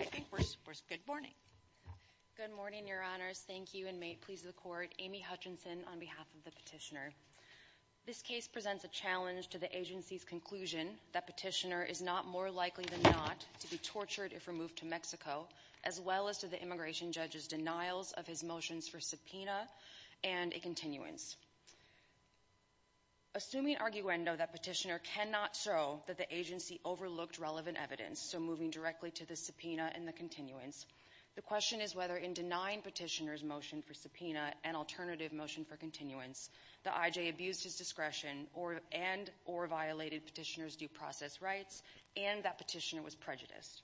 I think we're good morning. Good morning, your honors. Thank you, and may it please the court, Amy Hutchinson on behalf of the petitioner. This case presents a challenge to the agency's conclusion that petitioner is not more likely than not to be tortured if removed to Mexico, as well as to the immigration judge's denials of his motions for subpoena and a continuance. Assuming arguendo that petitioner cannot show that the agency overlooked relevant evidence, so moving directly to the subpoena and the continuance, the question is whether in denying petitioner's motion for subpoena and alternative motion for continuance, the IJ abused his discretion and or violated petitioner's due process rights, and that petitioner was prejudiced.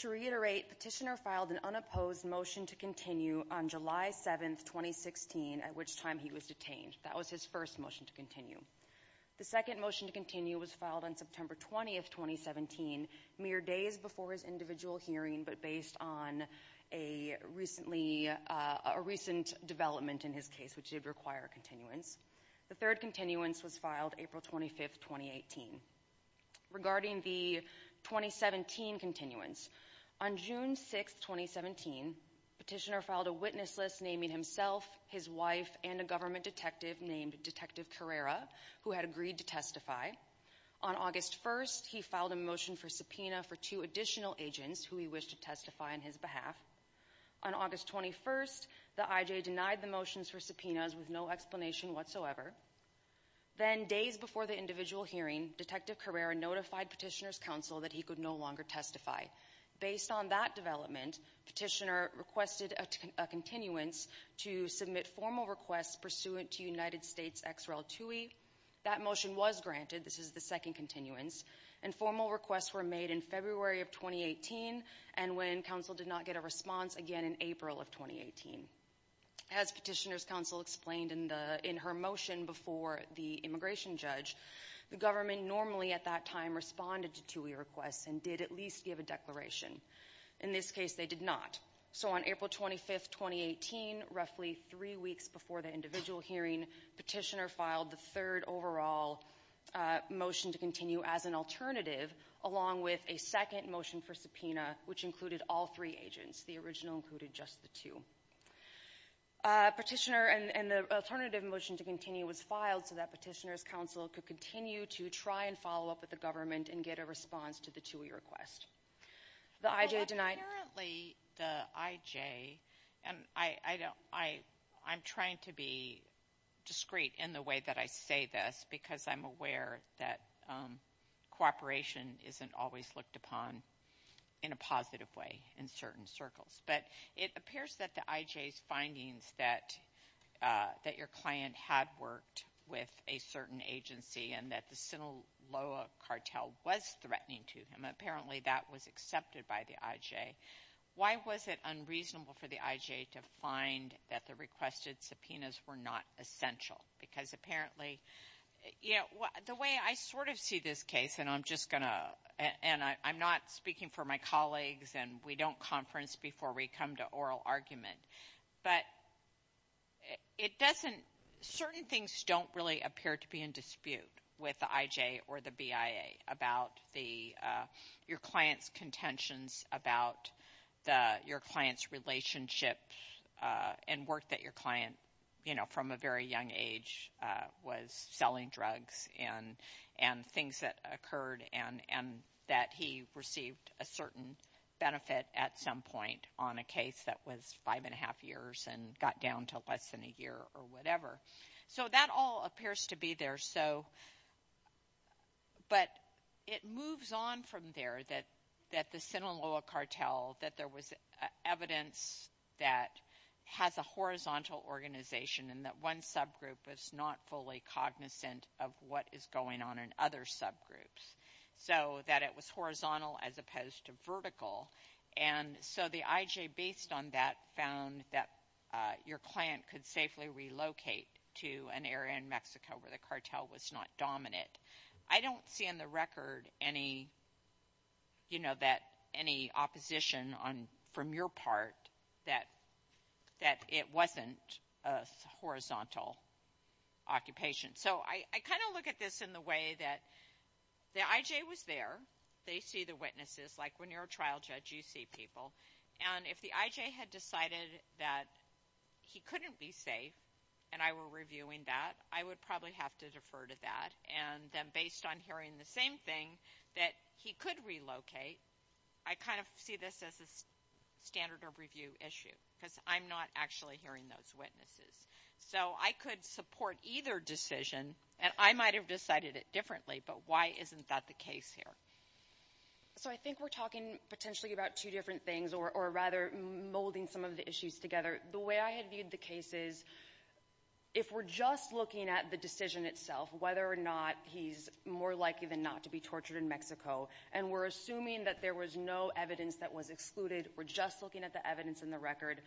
To reiterate, petitioner filed an unopposed motion to continue on July 7th, 2016, at which time he was detained. That was his first motion to continue. The second motion to continue was filed on September 20th, 2017, mere days before his individual hearing, but based on a recent development in his case, which did require a continuance. The third continuance was filed April 25th, 2018. Regarding the 2017 continuance, on June 6th, 2017, petitioner filed a witness list naming himself, his wife, and a government detective named Detective Carrera who had agreed to testify. On August 1st, he filed a motion for subpoena for two additional agents who he wished to testify on his behalf. On August 21st, the IJ denied the motions for subpoenas with no explanation whatsoever. Then, days before the individual hearing, Detective Carrera notified petitioner's counsel that he could no longer testify. Based on that development, petitioner requested a continuance to submit formal requests pursuant to United States XREL 2E. That motion was granted, this is the second continuance, and formal requests were made in February of 2018, and when counsel did not get a response, again in April of 2018. As petitioner's counsel explained in her motion before the immigration judge, the government normally, at that time, responded to 2E requests and did at least give a declaration. In this case, they did not. So on April 25th, 2018, roughly three weeks before the individual hearing, petitioner filed the third overall motion to continue as an alternative along with a second motion for subpoena which included all three agents. The original included just the two. Petitioner and the alternative motion to continue was filed so that petitioner's counsel could continue to try and follow up with the government and get a response to the 2E request. The IJ denied. Well, apparently the IJ, and I'm trying to be discreet in the way that I say this because I'm aware that cooperation isn't always looked upon in a positive way in certain circles, but it appears that the IJ's findings that your client had worked with a certain agency and that the Sinaloa cartel was threatening to him, apparently that was accepted by the IJ. Why was it unreasonable for the IJ to find that the requested subpoenas were not essential? Because apparently, the way I sort of see this case, and I'm not speaking for my colleagues and we don't conference before we come to oral argument, but certain things don't really appear to be in dispute with the IJ or the BIA about your client's contentions, about your client's relationship and work that your client from a very young age was selling drugs and things that occurred and that he received a certain benefit at some point on a case that was five and a half years and got down to less than a year or whatever. So that all appears to be there. So, but it moves on from there that the Sinaloa cartel that there was evidence that has a horizontal organization and that one subgroup is not fully cognizant of what is going on in other subgroups. So that it was horizontal as opposed to vertical. And so the IJ based on that found that your client could safely relocate to an area in Mexico where the cartel was not dominant. I don't see in the record any, you know, that any opposition on from your part that it wasn't a horizontal occupation. So I kind of look at this in the way that the IJ was there, they see the witnesses, like when you're a trial judge, you see people. And if the IJ had decided that he couldn't be safe and I were reviewing that, I would probably have to defer to that. And then based on hearing the same thing that he could relocate, I kind of see this as a standard of review issue because I'm not actually hearing those witnesses. So I could support either decision and I might've decided it differently, but why isn't that the case here? So I think we're talking potentially about two different things or rather molding some of the issues together. The way I had viewed the case is if we're just looking at the decision itself, whether or not he's more likely than not to be tortured in Mexico, and we're assuming that there was no evidence that was excluded, we're just looking at the evidence in the record,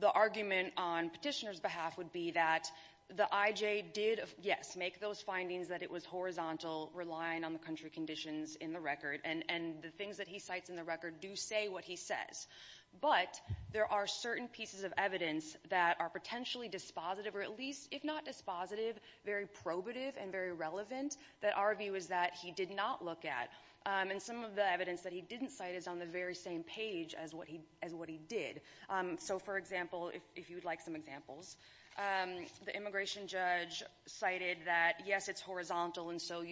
the argument on petitioner's behalf would be that the IJ did, yes, make those findings that it was horizontal, relying on the country conditions in the record. And the things that he cites in the record do say what he says. But there are certain pieces of evidence that are potentially dispositive, or at least if not dispositive, very probative and very relevant that our view is that he did not look at. And some of the evidence that he didn't cite is on the very same page as what he did. So for example, if you'd like some examples, the immigration judge cited that yes, it's horizontal and so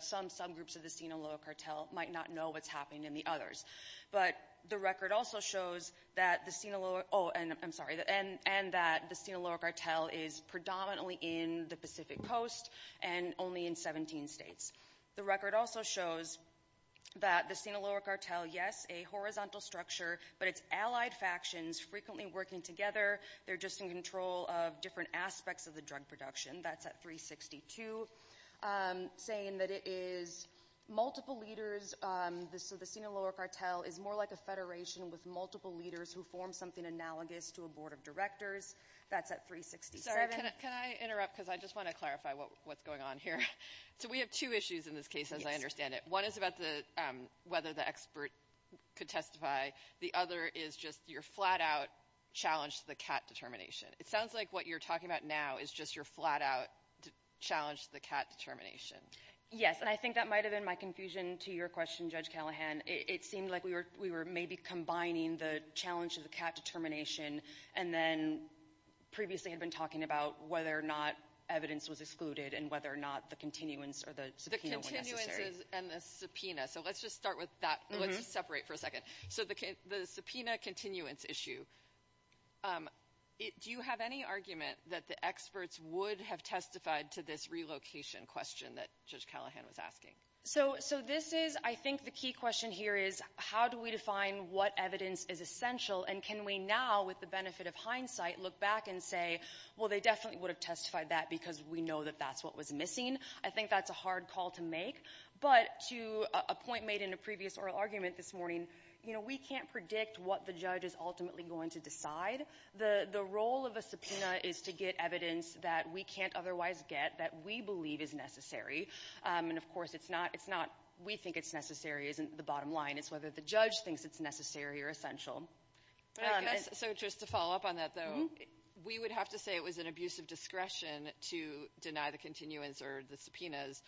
some subgroups of the Sinaloa cartel might not know what's happening in the others. But the record also shows that the Sinaloa, oh, and I'm sorry, and that the Sinaloa cartel is predominantly in the Pacific Coast, and only in 17 states. The record also shows that the Sinaloa cartel, yes, a horizontal structure, but it's allied factions frequently working together. They're just in control of different aspects of the drug production. That's at 362, saying that it is multiple leaders. So the Sinaloa cartel is more like a federation with multiple leaders who form something analogous to a board of directors. That's at 367. Can I interrupt? Because I just want to clarify what's going on here. So we have two issues in this case, as I understand it. One is about whether the expert could testify. The other is just your flat out challenge to the cat determination. It sounds like what you're talking about now is just your flat out challenge to the cat determination. Yes, and I think that might've been my confusion to your question, Judge Callahan. It seemed like we were maybe combining the challenge of the cat determination, and then previously had been talking about whether or not evidence was excluded and whether or not the continuance or the subpoena were necessary. The continuance and the subpoena. So let's just start with that. Let's separate for a second. So the subpoena continuance issue, do you have any argument that the experts would have testified to this relocation question that Judge Callahan was asking? So this is, I think the key question here is how do we define what evidence is essential and can we now, with the benefit of hindsight, look back and say, well, they definitely would have testified that because we know that that's what was missing. I think that's a hard call to make. But to a point made in a previous oral argument this morning, we can't predict what the judge is ultimately going to decide. The role of a subpoena is to get evidence that we can't otherwise get that we believe is necessary. And of course, it's not, we think it's necessary isn't the bottom line. It's whether the judge thinks it's necessary or essential. But I guess, so just to follow up on that, though, we would have to say it was an abuse of discretion to deny the continuance or the subpoenas.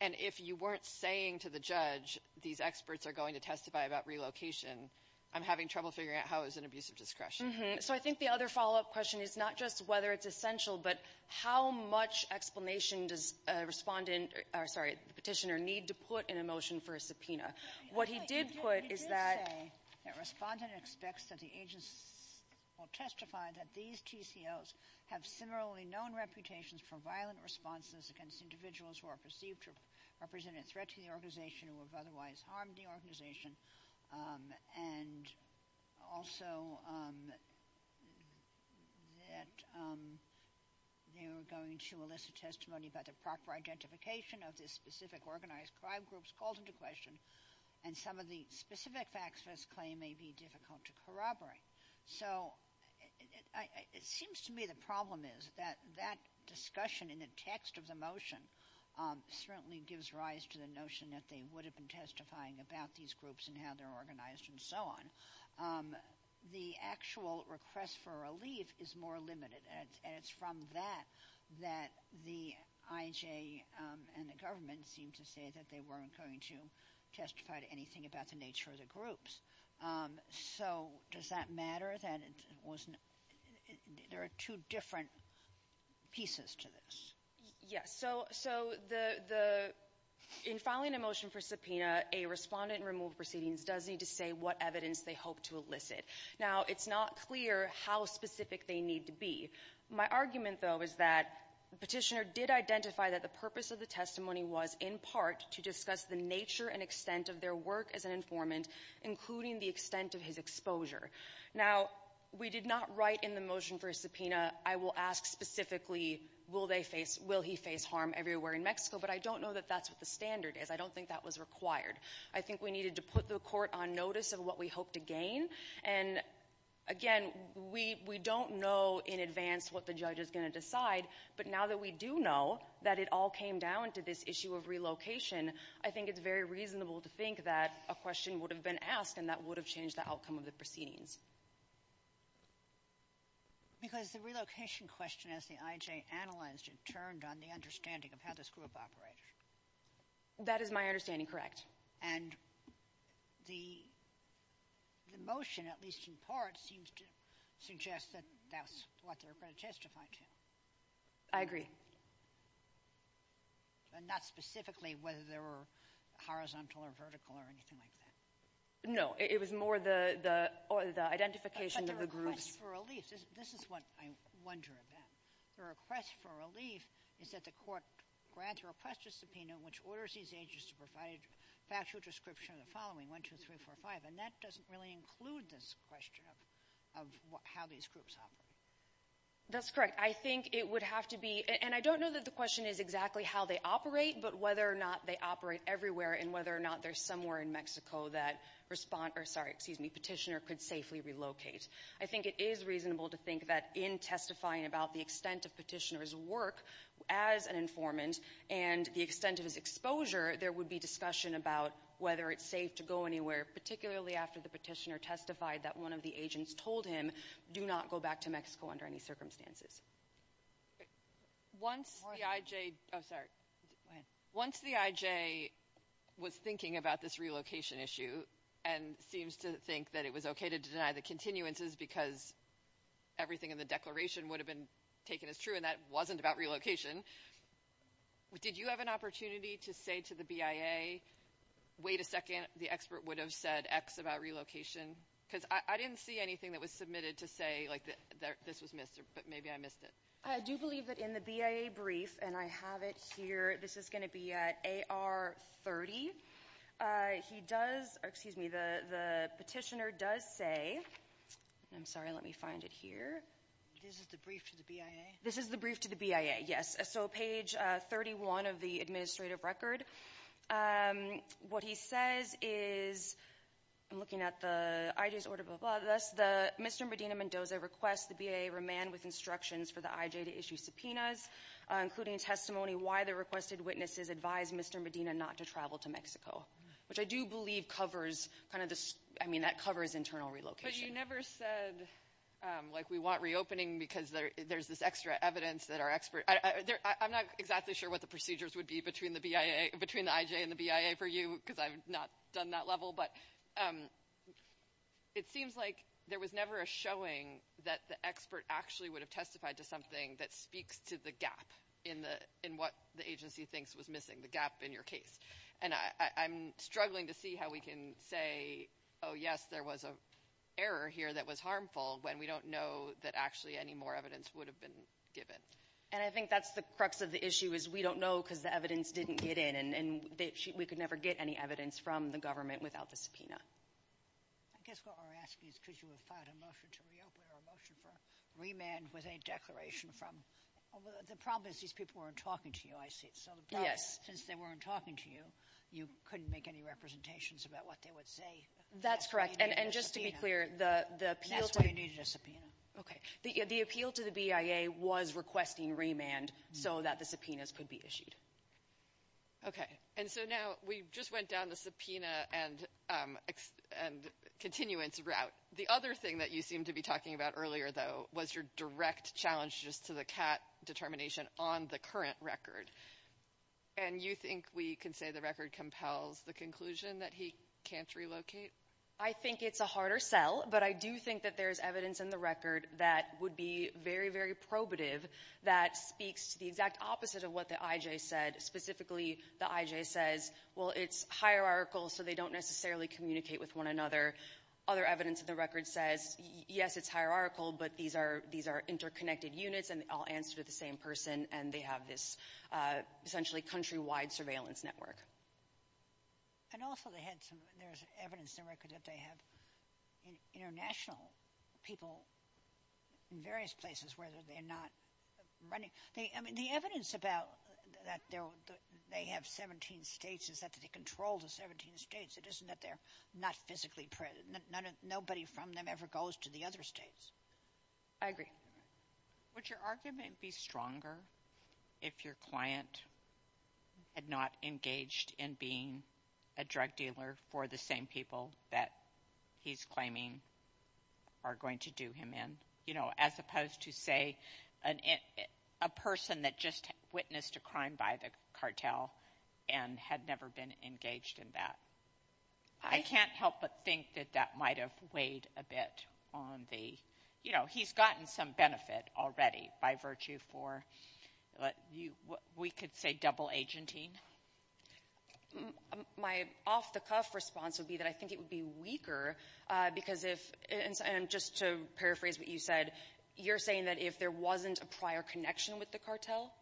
And if you weren't saying to the judge, these experts are going to testify about relocation, I'm having trouble figuring out how it was an abuse of discretion. So I think the other follow-up question is not just whether it's essential, but how much explanation does a respondent, or sorry, the petitioner need to put in a motion for a subpoena? What he did put is that... That respondent expects that the agents will testify that these TCOs have similarly known reputations for violent responses against individuals who are perceived to represent a threat to the organization who have otherwise harmed the organization. And also, that they were going to elicit testimony about the proper identification of this specific organized crime groups called into question, and some of the specific facts this claim may be difficult to corroborate. So it seems to me the problem is that that discussion in the text of the motion certainly gives rise to the notion that they would have been testifying about these groups and how they're organized and so on. The actual request for a relief is more limited, and it's from that that the IHA and the government seem to say that they weren't going to testify to anything about the nature of the groups. So does that matter that it wasn't... There are two different pieces to this. Yes, so in filing a motion for subpoena, a respondent in removed proceedings does need to say what evidence they hope to elicit. Now, it's not clear how specific they need to be. My argument, though, is that the petitioner did identify that the purpose of the testimony was in part to discuss the nature and extent of their work as an informant, including the extent of his exposure. Now, we did not write in the motion for a subpoena, I will ask specifically, will he face harm everywhere in Mexico, but I don't know that that's what the standard is. I don't think that was required. I think we needed to put the court on notice of what we hope to gain. And again, we don't know in advance what the judge is going to decide, but now that we do know that it all came down to this issue of relocation, I think it's very reasonable to think that a question would have been asked and that would have changed the outcome of the proceedings. Because the relocation question, as the IJ analyzed it, turned on the understanding of how this group operated. That is my understanding, correct. And the motion, at least in part, seems to suggest that that's what they're going to testify to. I agree. And not specifically whether they were horizontal or vertical or anything like that. No, it was more the identification of the groups. But the request for relief, this is what I wonder about. The request for relief is that the court grants or requests a subpoena which orders these agents to provide a factual description of the following, one, two, three, four, five. And that doesn't really include this question of how these groups operate. That's correct. I think it would have to be, and I don't know that the question is exactly how they operate, but whether or not they operate everywhere and whether or not there's somewhere in Mexico that respond, or sorry, excuse me, petitioner could safely relocate. I think it is reasonable to think that in testifying about the extent of petitioner's work as an informant and the extent of his exposure, there would be discussion about whether it's safe to go anywhere, particularly after the petitioner testified that one of the agents told him, do not go back to Mexico under any circumstances. Once the IJ, oh, sorry, go ahead. Once the IJ was thinking about this relocation issue and seems to think that it was okay to deny the continuances because everything in the declaration would have been taken as true and that wasn't about relocation, did you have an opportunity to say to the BIA, wait a second, the expert would have said X about relocation? Because I didn't see anything that was submitted to say that this was missed, but maybe I missed it. I do believe that in the BIA brief, and I have it here, this is gonna be at AR 30. He does, excuse me, the petitioner does say, I'm sorry, let me find it here. This is the brief to the BIA? This is the brief to the BIA, yes. So page 31 of the administrative record. What he says is, I'm looking at the IJ's order, but thus, Mr. Medina-Mendoza requests the BIA remand with instructions for the IJ to issue subpoenas, including testimony why the requested witnesses advised Mr. Medina not to travel to Mexico, which I do believe covers kind of this, I mean, that covers internal relocation. But you never said, like, we want reopening because there's this extra evidence that our expert, I'm not exactly sure what the procedures would be between the IJ and the BIA for you, because I've not done that level, but it seems like there was never a showing that the expert actually would have testified to something that speaks to the gap in what the agency thinks was missing, the gap in your case. And I'm struggling to see how we can say, oh, yes, there was an error here that was harmful, when we don't know that actually any more evidence would have been given. And I think that's the crux of the issue, is we don't know because the evidence didn't get in, and we could never get any evidence from the government without the subpoena. I guess what we're asking is, could you have filed a motion to reopen or a motion for remand with a declaration from, the problem is these people weren't talking to you, I see, so the problem is since they weren't talking to you, you couldn't make any representations about what they would say. That's correct. And just to be clear, the appeal to the- And that's why you needed a subpoena. Okay. The appeal to the BIA was requesting remand so that the subpoenas could be issued. Okay, and so now we just went down the subpoena and continuance route. The other thing that you seemed to be talking about earlier, though, was your direct challenge just to the CAT determination on the current record. And you think we can say the record compels the conclusion that he can't relocate? I think it's a harder sell, but I do think that there's evidence in the record that would be very, very probative that speaks to the exact opposite of what the IJ said. Specifically, the IJ says, well, it's hierarchical, so they don't necessarily communicate with one another. Other evidence in the record says, yes, it's hierarchical, but these are interconnected units and they all answer to the same person and they have this essentially country-wide surveillance network. And also they had some, there's evidence in the record that they have international people in various places where they're not running. The evidence about that they have 17 states is that they control the 17 states. It isn't that they're not physically present. Nobody from them ever goes to the other states. I agree. Would your argument be stronger if your client had not engaged in being a drug dealer for the same people that he's claiming are going to do him in? As opposed to say, a person that just witnessed a crime by the cartel and had never been engaged in that. I can't help but think that that might have weighed a bit on the, he's gotten some benefit already by virtue for, we could say double agenting. My off-the-cuff response would be that I think it would be weaker because if, and just to paraphrase what you said, you're saying that if there wasn't a prior connection with the cartel?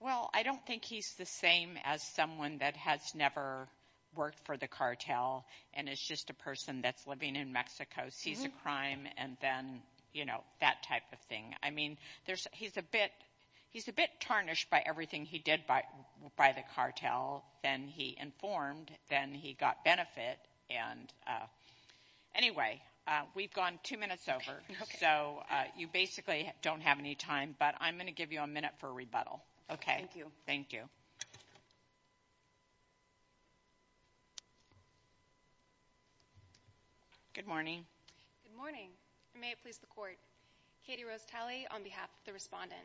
Well, I don't think he's the same as someone that has never worked for the cartel and is just a person that's living in Mexico, sees a crime and then that type of thing. I mean, he's a bit tarnished by everything he did by the cartel, then he informed, then he got benefit. And anyway, we've gone two minutes over. So you basically don't have any time, but I'm gonna give you a minute for a rebuttal. Okay. Thank you. Good morning. Good morning, and may it please the court. Katie Rose Talley on behalf of the respondent.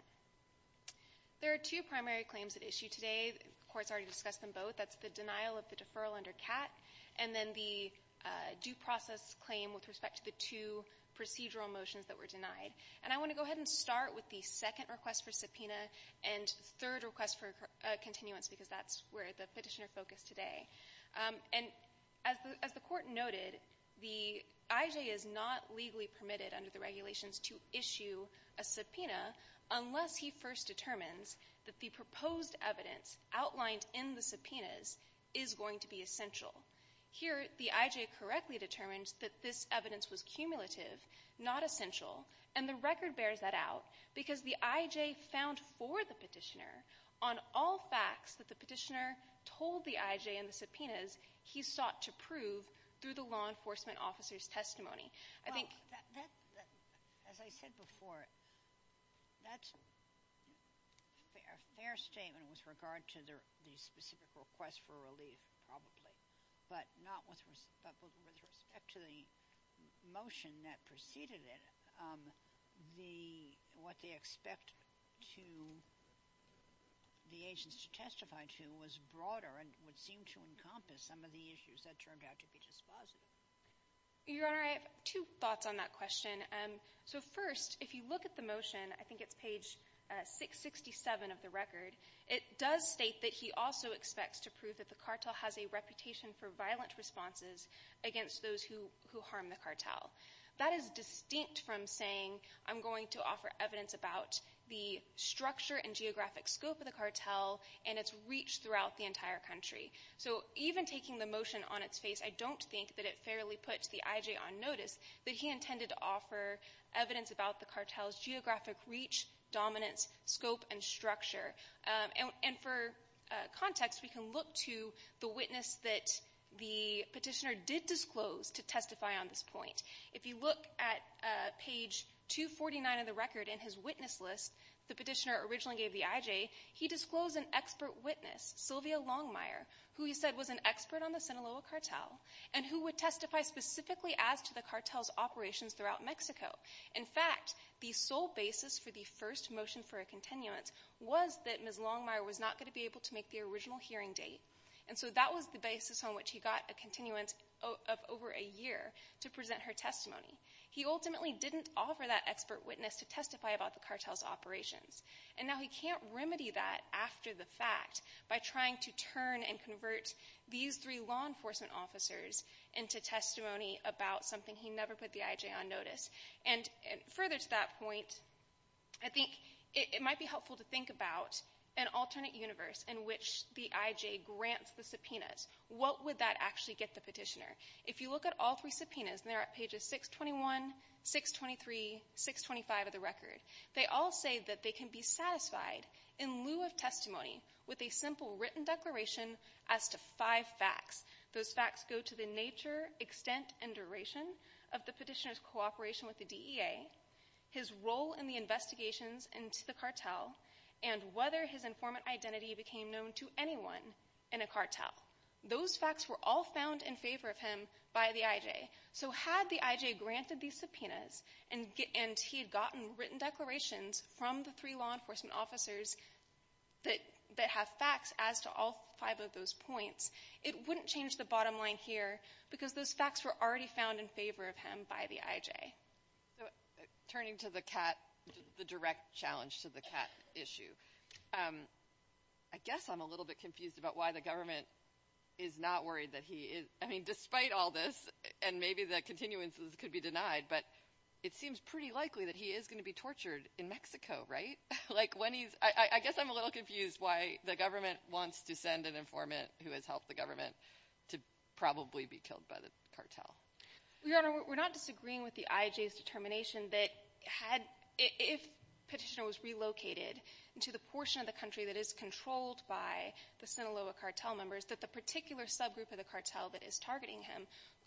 There are two primary claims at issue today. The court's already discussed them both. That's the denial of the deferral under CAT and then the due process claim with respect to the two procedural motions that were denied. And I wanna go ahead and start with the second request for subpoena and third request for a continuance because that's where the petitioner focused today. And as the court noted, the IJ is not legally permitted under the regulations to issue a subpoena unless he first determines that the proposed evidence outlined in the subpoenas is going to be essential. Here, the IJ correctly determines that this evidence was cumulative, not essential. And the record bears that out because the IJ found for the petitioner on all facts that the petitioner told the IJ in the subpoenas, he sought to prove through the law enforcement officer's testimony. I think- As I said before, that's a fair statement with regard to the specific request for relief probably, but not with respect to the motion that preceded it. What they expect the agents to testify to was broader and would seem to encompass some of the issues that turned out to be dispositive. Your Honor, I have two thoughts on that question. So first, if you look at the motion, I think it's page 667 of the record, it does state that he also expects to prove that the cartel has a reputation for violent responses against those who harm the cartel. That is distinct from saying, I'm going to offer evidence about the structure and geographic scope of the cartel and its reach throughout the entire country. So even taking the motion on its face, I don't think that it fairly puts the IJ on notice that he intended to offer evidence about the cartel's geographic reach, dominance, scope, and structure. And for context, we can look to the witness that the petitioner did disclose to testify on this point. If you look at page 249 of the record in his witness list, the petitioner originally gave the IJ, he disclosed an expert witness, Sylvia Longmire, who he said was an expert on the Sinaloa cartel and who would testify specifically as to the cartel's operations throughout Mexico. In fact, the sole basis for the first motion for a continuance was that Ms. Longmire was not going to be able to make the original hearing date. And so that was the basis on which he got a continuance of over a year to present her testimony. He ultimately didn't offer that expert witness to testify about the cartel's operations. And now he can't remedy that after the fact by trying to turn and convert these three law enforcement officers into testimony about something he never put the IJ on notice. And further to that point, I think it might be helpful to think about an alternate universe in which the IJ grants the subpoenas. What would that actually get the petitioner? If you look at all three subpoenas, and they're at pages 621, 623, 625 of the record, they all say that they can be satisfied in lieu of testimony with a simple written declaration as to five facts. Those facts go to the nature, extent, and duration of the petitioner's cooperation with the DEA, his role in the investigations into the cartel, and whether his informant identity became known to anyone in a cartel. Those facts were all found in favor of him by the IJ. So had the IJ granted these subpoenas and he had gotten written declarations from the three law enforcement officers that have facts as to all five of those points, it wouldn't change the bottom line here because those facts were already found in favor of him by the IJ. So turning to the CAT, the direct challenge to the CAT issue. I guess I'm a little bit confused about why the government is not worried that he is, I mean, despite all this, and maybe the continuances could be denied, but it seems pretty likely that he is gonna be tortured in Mexico, right? Like when he's, I guess I'm a little confused why the government wants to send an informant who has helped the government to probably be killed by the cartel. Your Honor, we're not disagreeing with the IJ's determination that had, if petitioner was relocated into the portion of the country that is controlled by the Sinaloa cartel members, that the particular subgroup of the cartel that is targeting him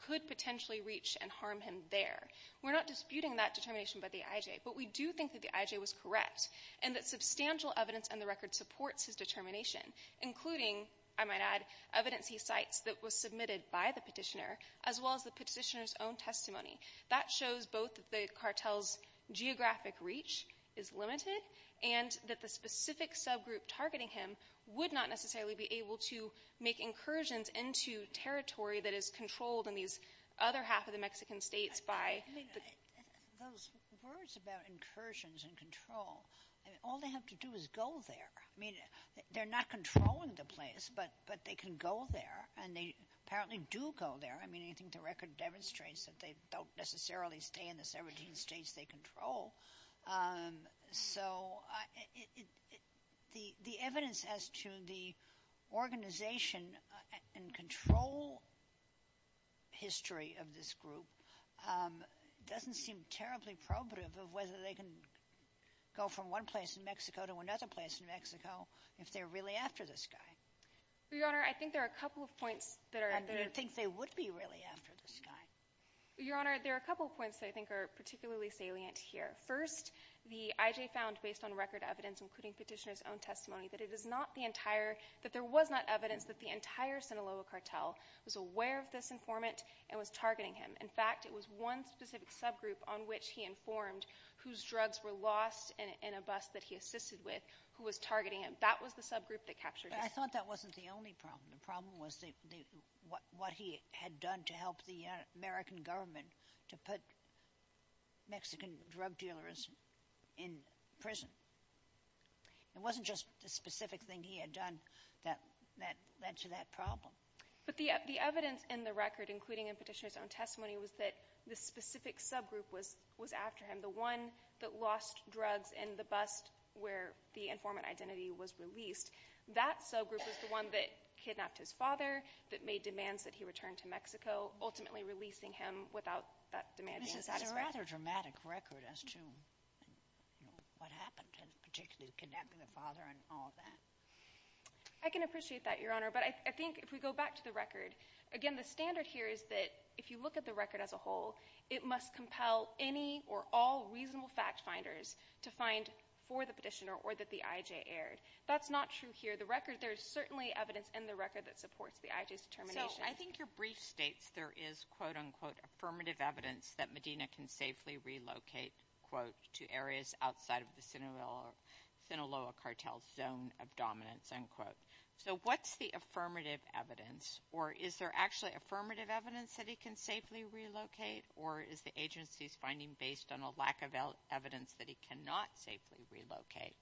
could potentially reach and harm him there. We're not disputing that determination by the IJ, but we do think that the IJ was correct, and that substantial evidence on the record supports his determination, including, I might add, evidence he cites that was submitted by the petitioner, as well as the petitioner's own testimony. That shows both the cartel's geographic reach is limited, and that the specific subgroup targeting him would not necessarily be able to make incursions into territory that is controlled in these other half of the Mexican states by the- Those words about incursions and control, I mean, all they have to do is go there. I mean, they're not controlling the place, but they can go there, and they apparently do go there. I mean, I think the record demonstrates that they don't necessarily stay in the 17 states they control. So, the evidence as to the organization and control history of this group doesn't seem terribly probative of whether they can go from one place in Mexico to another place in Mexico if they're really after this guy. Your Honor, I think there are a couple of points that are- And do you think they would be really after this guy? Your Honor, there are a couple of points that I think are particularly salient here. First, the IJ found, based on record evidence, including petitioner's own testimony, that it is not the entire, that there was not evidence that the entire Sinaloa cartel was aware of this informant and was targeting him. In fact, it was one specific subgroup on which he informed whose drugs were lost in a bus that he assisted with who was targeting him. That was the subgroup that captured his- But I thought that wasn't the only problem. The problem was what he had done to help the American government to put Mexican drug dealers in prison. It wasn't just the specific thing he had done that led to that problem. But the evidence in the record, including in petitioner's own testimony, was that the specific subgroup was after him, the one that lost drugs in the bus where the informant identity was released. That subgroup was the one that kidnapped his father, that made demands that he return to Mexico, ultimately releasing him without that demand being satisfied. This is a rather dramatic record as to what happened, particularly kidnapping the father and all of that. I can appreciate that, Your Honor. But I think if we go back to the record, again, the standard here is that if you look at the record as a whole, it must compel any or all reasonable fact-finders to find for the petitioner or that the IJ erred. That's not true here. The record, there's certainly evidence in the record that supports the IJ's determination. So I think your brief states there is quote, unquote, affirmative evidence that Medina can safely relocate, quote, to areas outside of the Sinaloa cartel's zone of dominance, unquote. So what's the affirmative evidence, or is there actually affirmative evidence that he can safely relocate, or is the agency's finding based on a lack of evidence that he cannot safely relocate?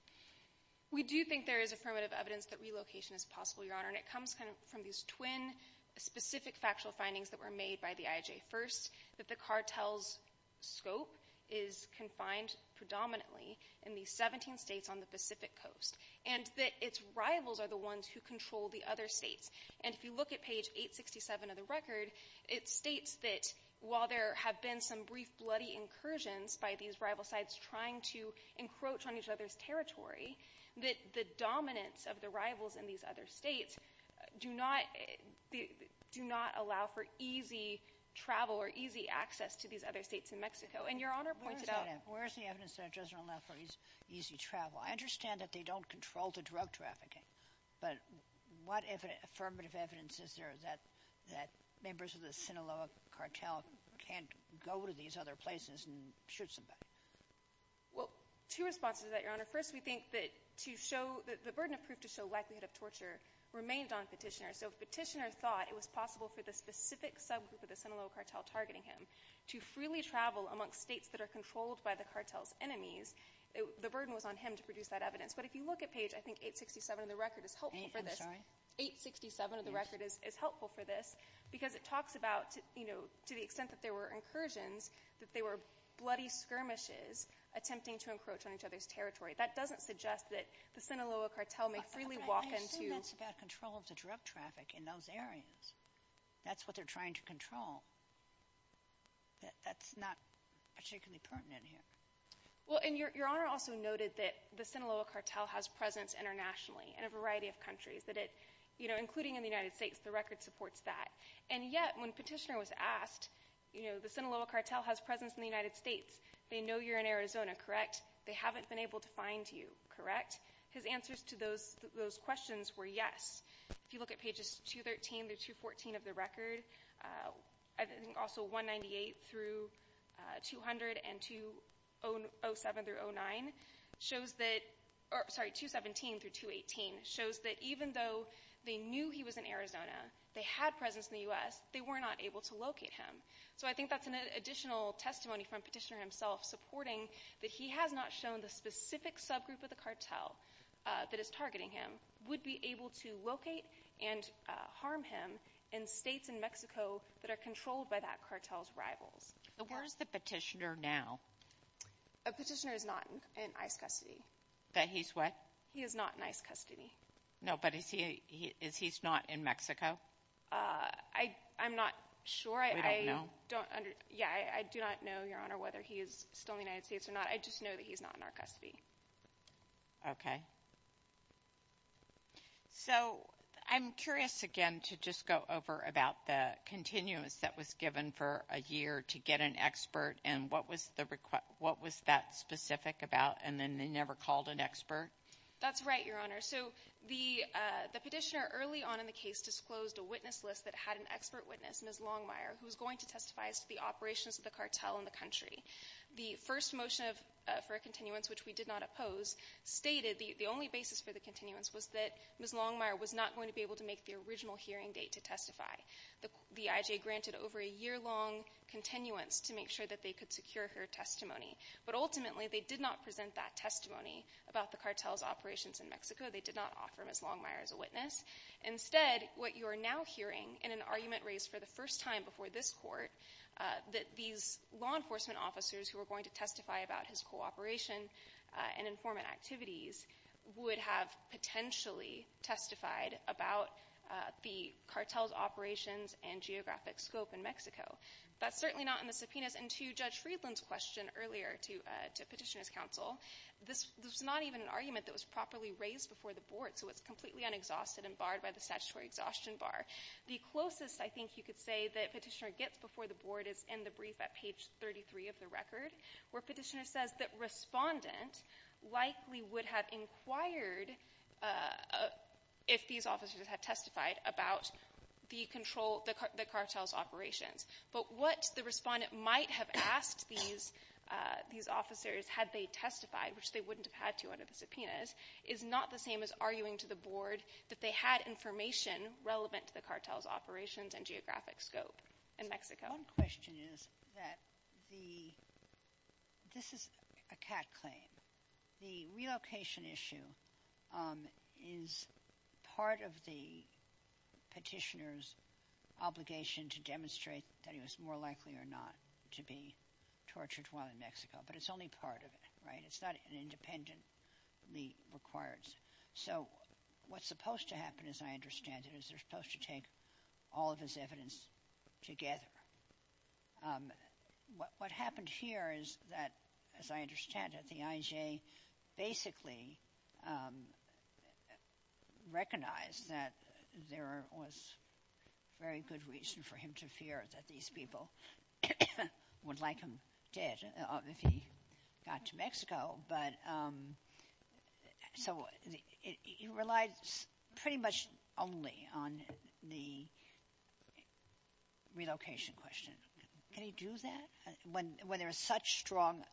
We do think there is affirmative evidence that relocation is possible, Your Honor, and it comes from these twin specific factual findings that were made by the IJ. First, that the cartel's scope is confined predominantly in these 17 states on the Pacific Coast, and that its rivals are the ones who control the other states. And if you look at page 867 of the record, it states that while there have been some brief bloody incursions by these rival sides trying to encroach on each other's territory, that the dominance of the rivals in these other states do not allow for easy travel or easy access to these other states in Mexico. And Your Honor pointed out- Where's the evidence that it doesn't allow for easy travel? I understand that they don't control the drug trafficking, but what affirmative evidence is there that members of the Sinaloa cartel can't go to these other places and shoot somebody? Well, two responses to that, Your Honor. First, we think that the burden of proof to show likelihood of torture remained on Petitioner. So if Petitioner thought it was possible for the specific subgroup of the Sinaloa cartel targeting him to freely travel amongst states that are controlled by the cartel's enemies, the burden was on him to produce that evidence. But if you look at page, I think, 867 of the record is helpful for this. I'm sorry? 867 of the record is helpful for this because it talks about, you know, to the extent that there were incursions, that they were bloody skirmishes attempting to encroach on each other's territory. That doesn't suggest that the Sinaloa cartel may freely walk into- But I assume that's about control of the drug traffic in those areas. That's what they're trying to control. That's not particularly pertinent here. Well, and Your Honor also noted that the Sinaloa cartel has presence internationally in a variety of countries, that it, you know, including in the United States, the record supports that. And yet, when Petitioner was asked, you know, the Sinaloa cartel has presence in the United States, they know you're in Arizona, correct? They haven't been able to find you, correct? His answers to those questions were yes. If you look at pages 213 through 214 of the record, I think also 198 through 200 and 207 through 09 shows that, or sorry, 217 through 218 shows that even though they knew he was in Arizona, they had presence in the U.S., they were not able to locate him. So I think that's an additional testimony from Petitioner himself supporting that he has not shown the specific subgroup of the cartel that is targeting him would be able to locate and harm him in states in Mexico that are controlled by that cartel's rivals. So where's the Petitioner now? A Petitioner is not in ICE custody. That he's what? He is not in ICE custody. No, but is he not in Mexico? I'm not sure. We don't know? Yeah, I do not know, Your Honor, whether he is still in the United States or not. I just know that he's not in our custody. Okay. So I'm curious, again, to just go over about the continuance that was given for a year to get an expert, and what was that specific about, and then they never called an expert? That's right, Your Honor. So the Petitioner early on in the case disclosed a witness list that had an expert witness, Ms. Longmire, who was going to testify as to the operations of the cartel in the country. The first motion for a continuance, which we did not oppose, stated the only basis for the continuance was that Ms. Longmire was not going to be able to make the original hearing date to testify. The IJ granted over a year-long continuance to make sure that they could secure her testimony, but ultimately, they did not present that testimony about the cartel's operations in Mexico. They did not offer Ms. Longmire as a witness. Instead, what you are now hearing in an argument raised for the first time before this Court, that these law enforcement officers who were going to testify about his cooperation and informant activities would have potentially testified about the cartel's operations and geographic scope in Mexico. That's certainly not in the subpoenas. And to Judge Friedland's question earlier to Petitioner's counsel, this was not even an argument that was properly raised before the Board, so it's completely unexhausted and barred by the statutory exhaustion bar. The closest I think you could say that Petitioner gets before the Board is in the brief at page 33 of the record, where Petitioner says that Respondent likely would have inquired if these officers had testified about the cartel's operations. But what the Respondent might have asked these officers had they testified, which they wouldn't have had to under the subpoenas, is not the same as arguing to the Board that they had information relevant to the cartel's operations and geographic scope in Mexico. One question is that this is a CAD claim. The relocation issue is part of the Petitioner's obligation to demonstrate that he was more likely or not to be tortured while in Mexico, but it's only part of it, right? It's not independently required. So what's supposed to happen, as I understand it, is they're supposed to take all of this evidence together. What happened here is that, as I understand it, the IJ basically recognized that there was very good reason for him to fear that these people would like him dead if he got to Mexico. So it relies pretty much only on the relocation question. Can he do that? When there is such strong,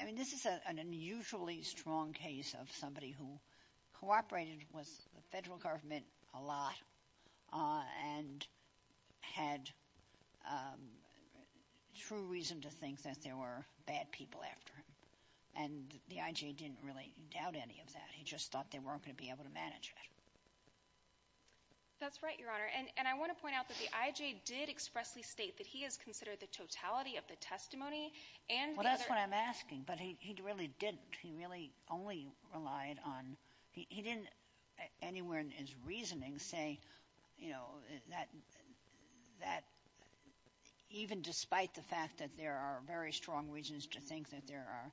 I mean, this is an unusually strong case of somebody who cooperated with the federal government a lot and had true reason to think that there were bad people after him. And the IJ didn't really doubt any of that. He just thought they weren't gonna be able to manage it. That's right, Your Honor. And I wanna point out that the IJ did expressly state that he has considered the totality of the testimony and the other- Well, that's what I'm asking, but he really didn't. He really only relied on, he didn't, anywhere in his reasoning, say even despite the fact that there are very strong reasons to think that there are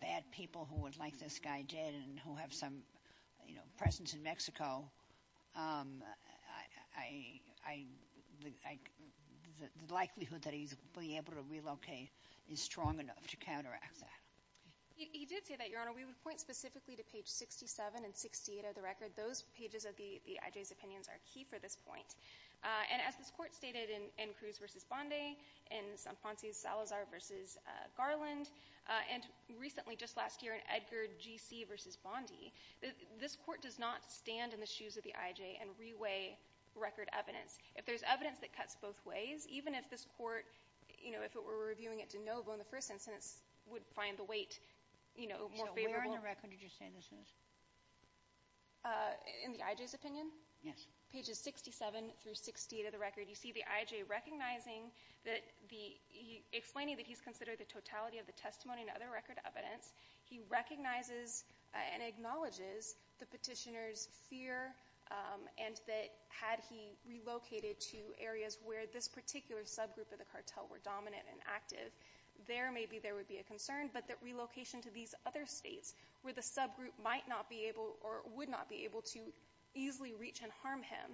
bad people who would like this guy dead and who have some presence in Mexico, I think the likelihood that he's being able to relocate is strong enough to counteract that. He did say that, Your Honor. We would point specifically to page 67 and 68 of the record. Those pages of the IJ's opinions are key for this point. And as this court stated in Cruz v. Bondi, in Sanfrancisco Salazar v. Garland, and recently, just last year, in Edgar G.C. v. Bondi, this court does not stand in the shoes of the IJ and reweigh record evidence. If there's evidence that cuts both ways, even if this court, if it were reviewing it de novo in the first instance, would find the weight more favorable- So where on the record did you say this is? In the IJ's opinion? Yes. Pages 67 through 68 of the record, you see the IJ recognizing that the, explaining that he's considered the totality of the testimony and other record evidence, he recognizes and acknowledges the petitioner's fear and that had he relocated to areas where this particular subgroup of the cartel were dominant and active, there maybe there would be a concern, but that relocation to these other states where the subgroup might not be able, or would not be able to easily reach and harm him,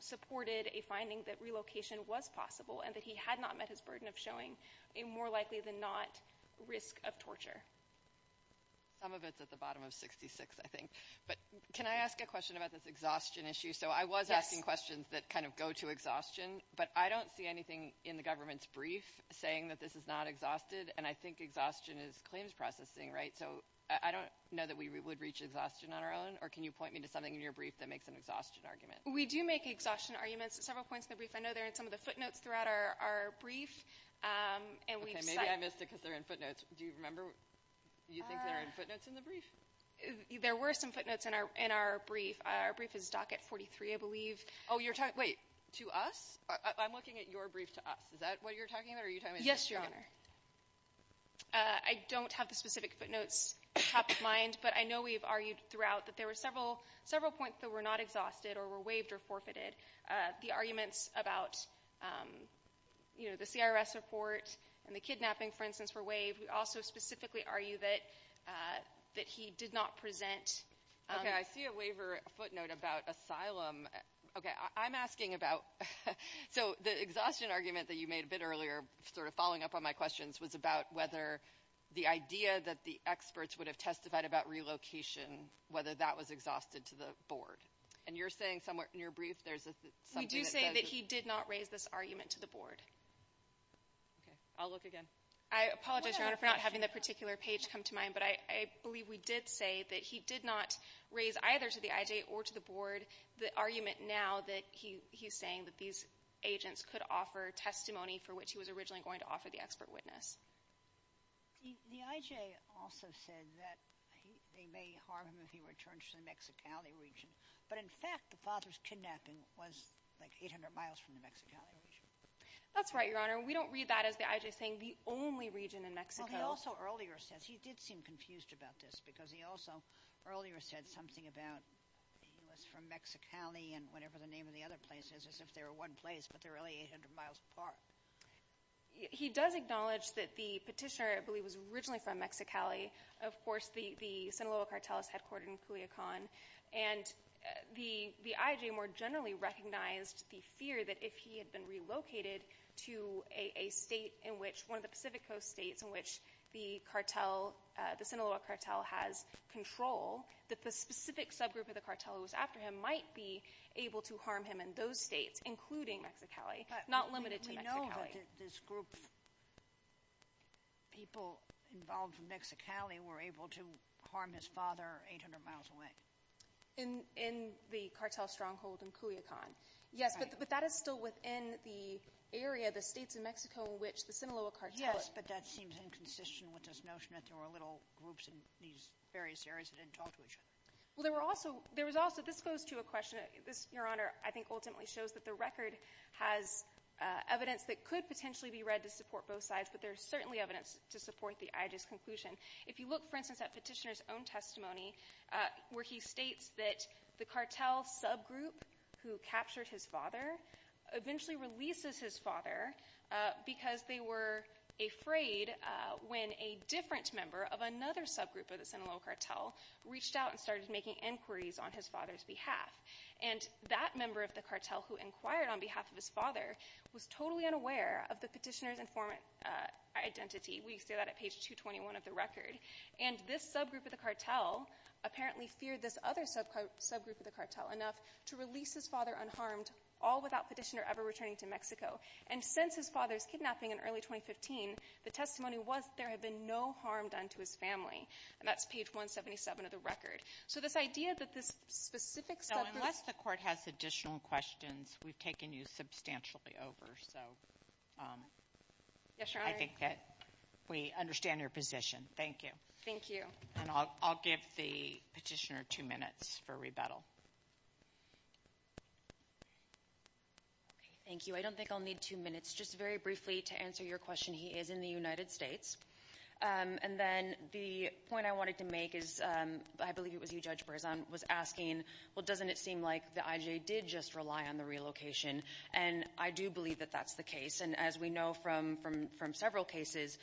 supported a finding that relocation was possible and that he had not met his burden of showing a more likely than not risk of torture. Some of it's at the bottom of 66, I think, but can I ask a question about this exhaustion issue? So I was asking questions that kind of go to exhaustion, but I don't see anything in the government's brief saying that this is not exhausted, and I think exhaustion is claims processing, right? So I don't know that we would reach exhaustion on our own, or can you point me to something in your brief that makes an exhaustion argument? We do make exhaustion arguments at several points in the brief. I know they're in some of the footnotes throughout our brief, and we've- Okay, maybe I missed it because they're in footnotes. Do you remember? You think they're in footnotes in the brief? There were some footnotes in our brief. Our brief is docket 43, I believe. Oh, you're talking, wait, to us? I'm looking at your brief to us. Is that what you're talking about, or are you talking about- Yes, Your Honor. I don't have the specific footnotes top of mind, but I know we've argued throughout that there were several points that were not exhausted or were waived or forfeited. The arguments about the CRS report and the kidnapping, for instance, were waived. We also specifically argue that he did not present- Okay, I see a waiver footnote about asylum. Okay, I'm asking about, so the exhaustion argument that you made a bit earlier, sort of following up on my questions, was about whether the idea that the experts would have testified about relocation, whether that was exhausted to the board. And you're saying somewhere in your brief there's something that does- We do say that he did not raise this argument to the board. Okay, I'll look again. I apologize, Your Honor, for not having that particular page come to mind, but I believe we did say that he did not raise either to the IJ or to the board the argument now that he's saying that these agents could offer testimony for which he was originally going to offer the expert witness. The IJ also said that they may harm him if he returns to the Mexicali region. But in fact, the father's kidnapping was like 800 miles from the Mexicali region. That's right, Your Honor. We don't read that as the IJ saying the only region in Mexico. Well, he also earlier says, he did seem confused about this because he also earlier said something about he was from Mexicali and whatever the name of the other places, as if they were one place, but they're only 800 miles apart. He does acknowledge that the petitioner, I believe, was originally from Mexicali. Of course, the Sinaloa Cartel is headquartered in Culiacan. And the IJ more generally recognized the fear that if he had been relocated to a state in one of the Pacific Coast states in which the Sinaloa Cartel has control, that the specific subgroup of the cartel who was after him might be able to harm him in those states, including Mexicali, not limited to Mexicali. But we know that this group of people involved with Mexicali were able to harm his father 800 miles away. In the cartel stronghold in Culiacan. Yes, but that is still within the area, the states of Mexico in which the Sinaloa Cartel. Yes, but that seems inconsistent with this notion that there were little groups in these various areas that didn't talk to each other. Well, there was also, this goes to a question, Your Honor, I think ultimately shows that the record has evidence that could potentially be read to support both sides, but there's certainly evidence to support the IJ's conclusion. If you look, for instance, at petitioner's own testimony, where he states that the cartel subgroup who captured his father eventually releases his father because they were afraid when a different member of another subgroup of the Sinaloa Cartel reached out and started making inquiries on his father's behalf. And that member of the cartel who inquired on behalf of his father was totally unaware of the petitioner's informant identity. We see that at page 221 of the record. And this subgroup of the cartel apparently feared this other subgroup of the cartel enough to release his father unharmed, all without petitioner ever returning to Mexico. And since his father's kidnapping in early 2015, the testimony was that there had been no harm done to his family. And that's page 177 of the record. So this idea that this specific subgroup- No, unless the court has additional questions, we've taken you substantially over. So I think that we understand your position. Thank you. Thank you. And I'll give the petitioner two minutes for rebuttal. Okay, thank you. I don't think I'll need two minutes. Just very briefly to answer your question. He is in the United States. And then the point I wanted to make is, I believe it was you, Judge Berzon, was asking, well, doesn't it seem like the IJ did just rely on the relocation? And I do believe that that's the case. And as we know from several cases,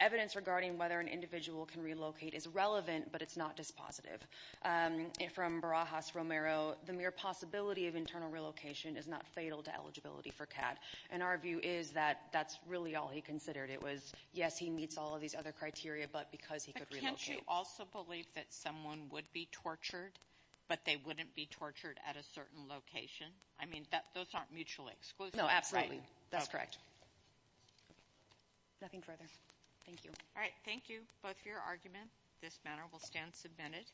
evidence regarding whether an individual can relocate is relevant, but it's not dispositive. And from Barajas-Romero, the mere possibility of internal relocation is not fatal to eligibility for CAD. And our view is that that's really all he considered. It was, yes, he meets all of these other criteria, but because he could relocate. But can't you also believe that someone would be tortured, but they wouldn't be tortured at a certain location? I mean, those aren't mutually exclusive, right? No, absolutely. That's correct. Nothing further. Thank you. All right, thank you both for your argument. This matter will stand submitted.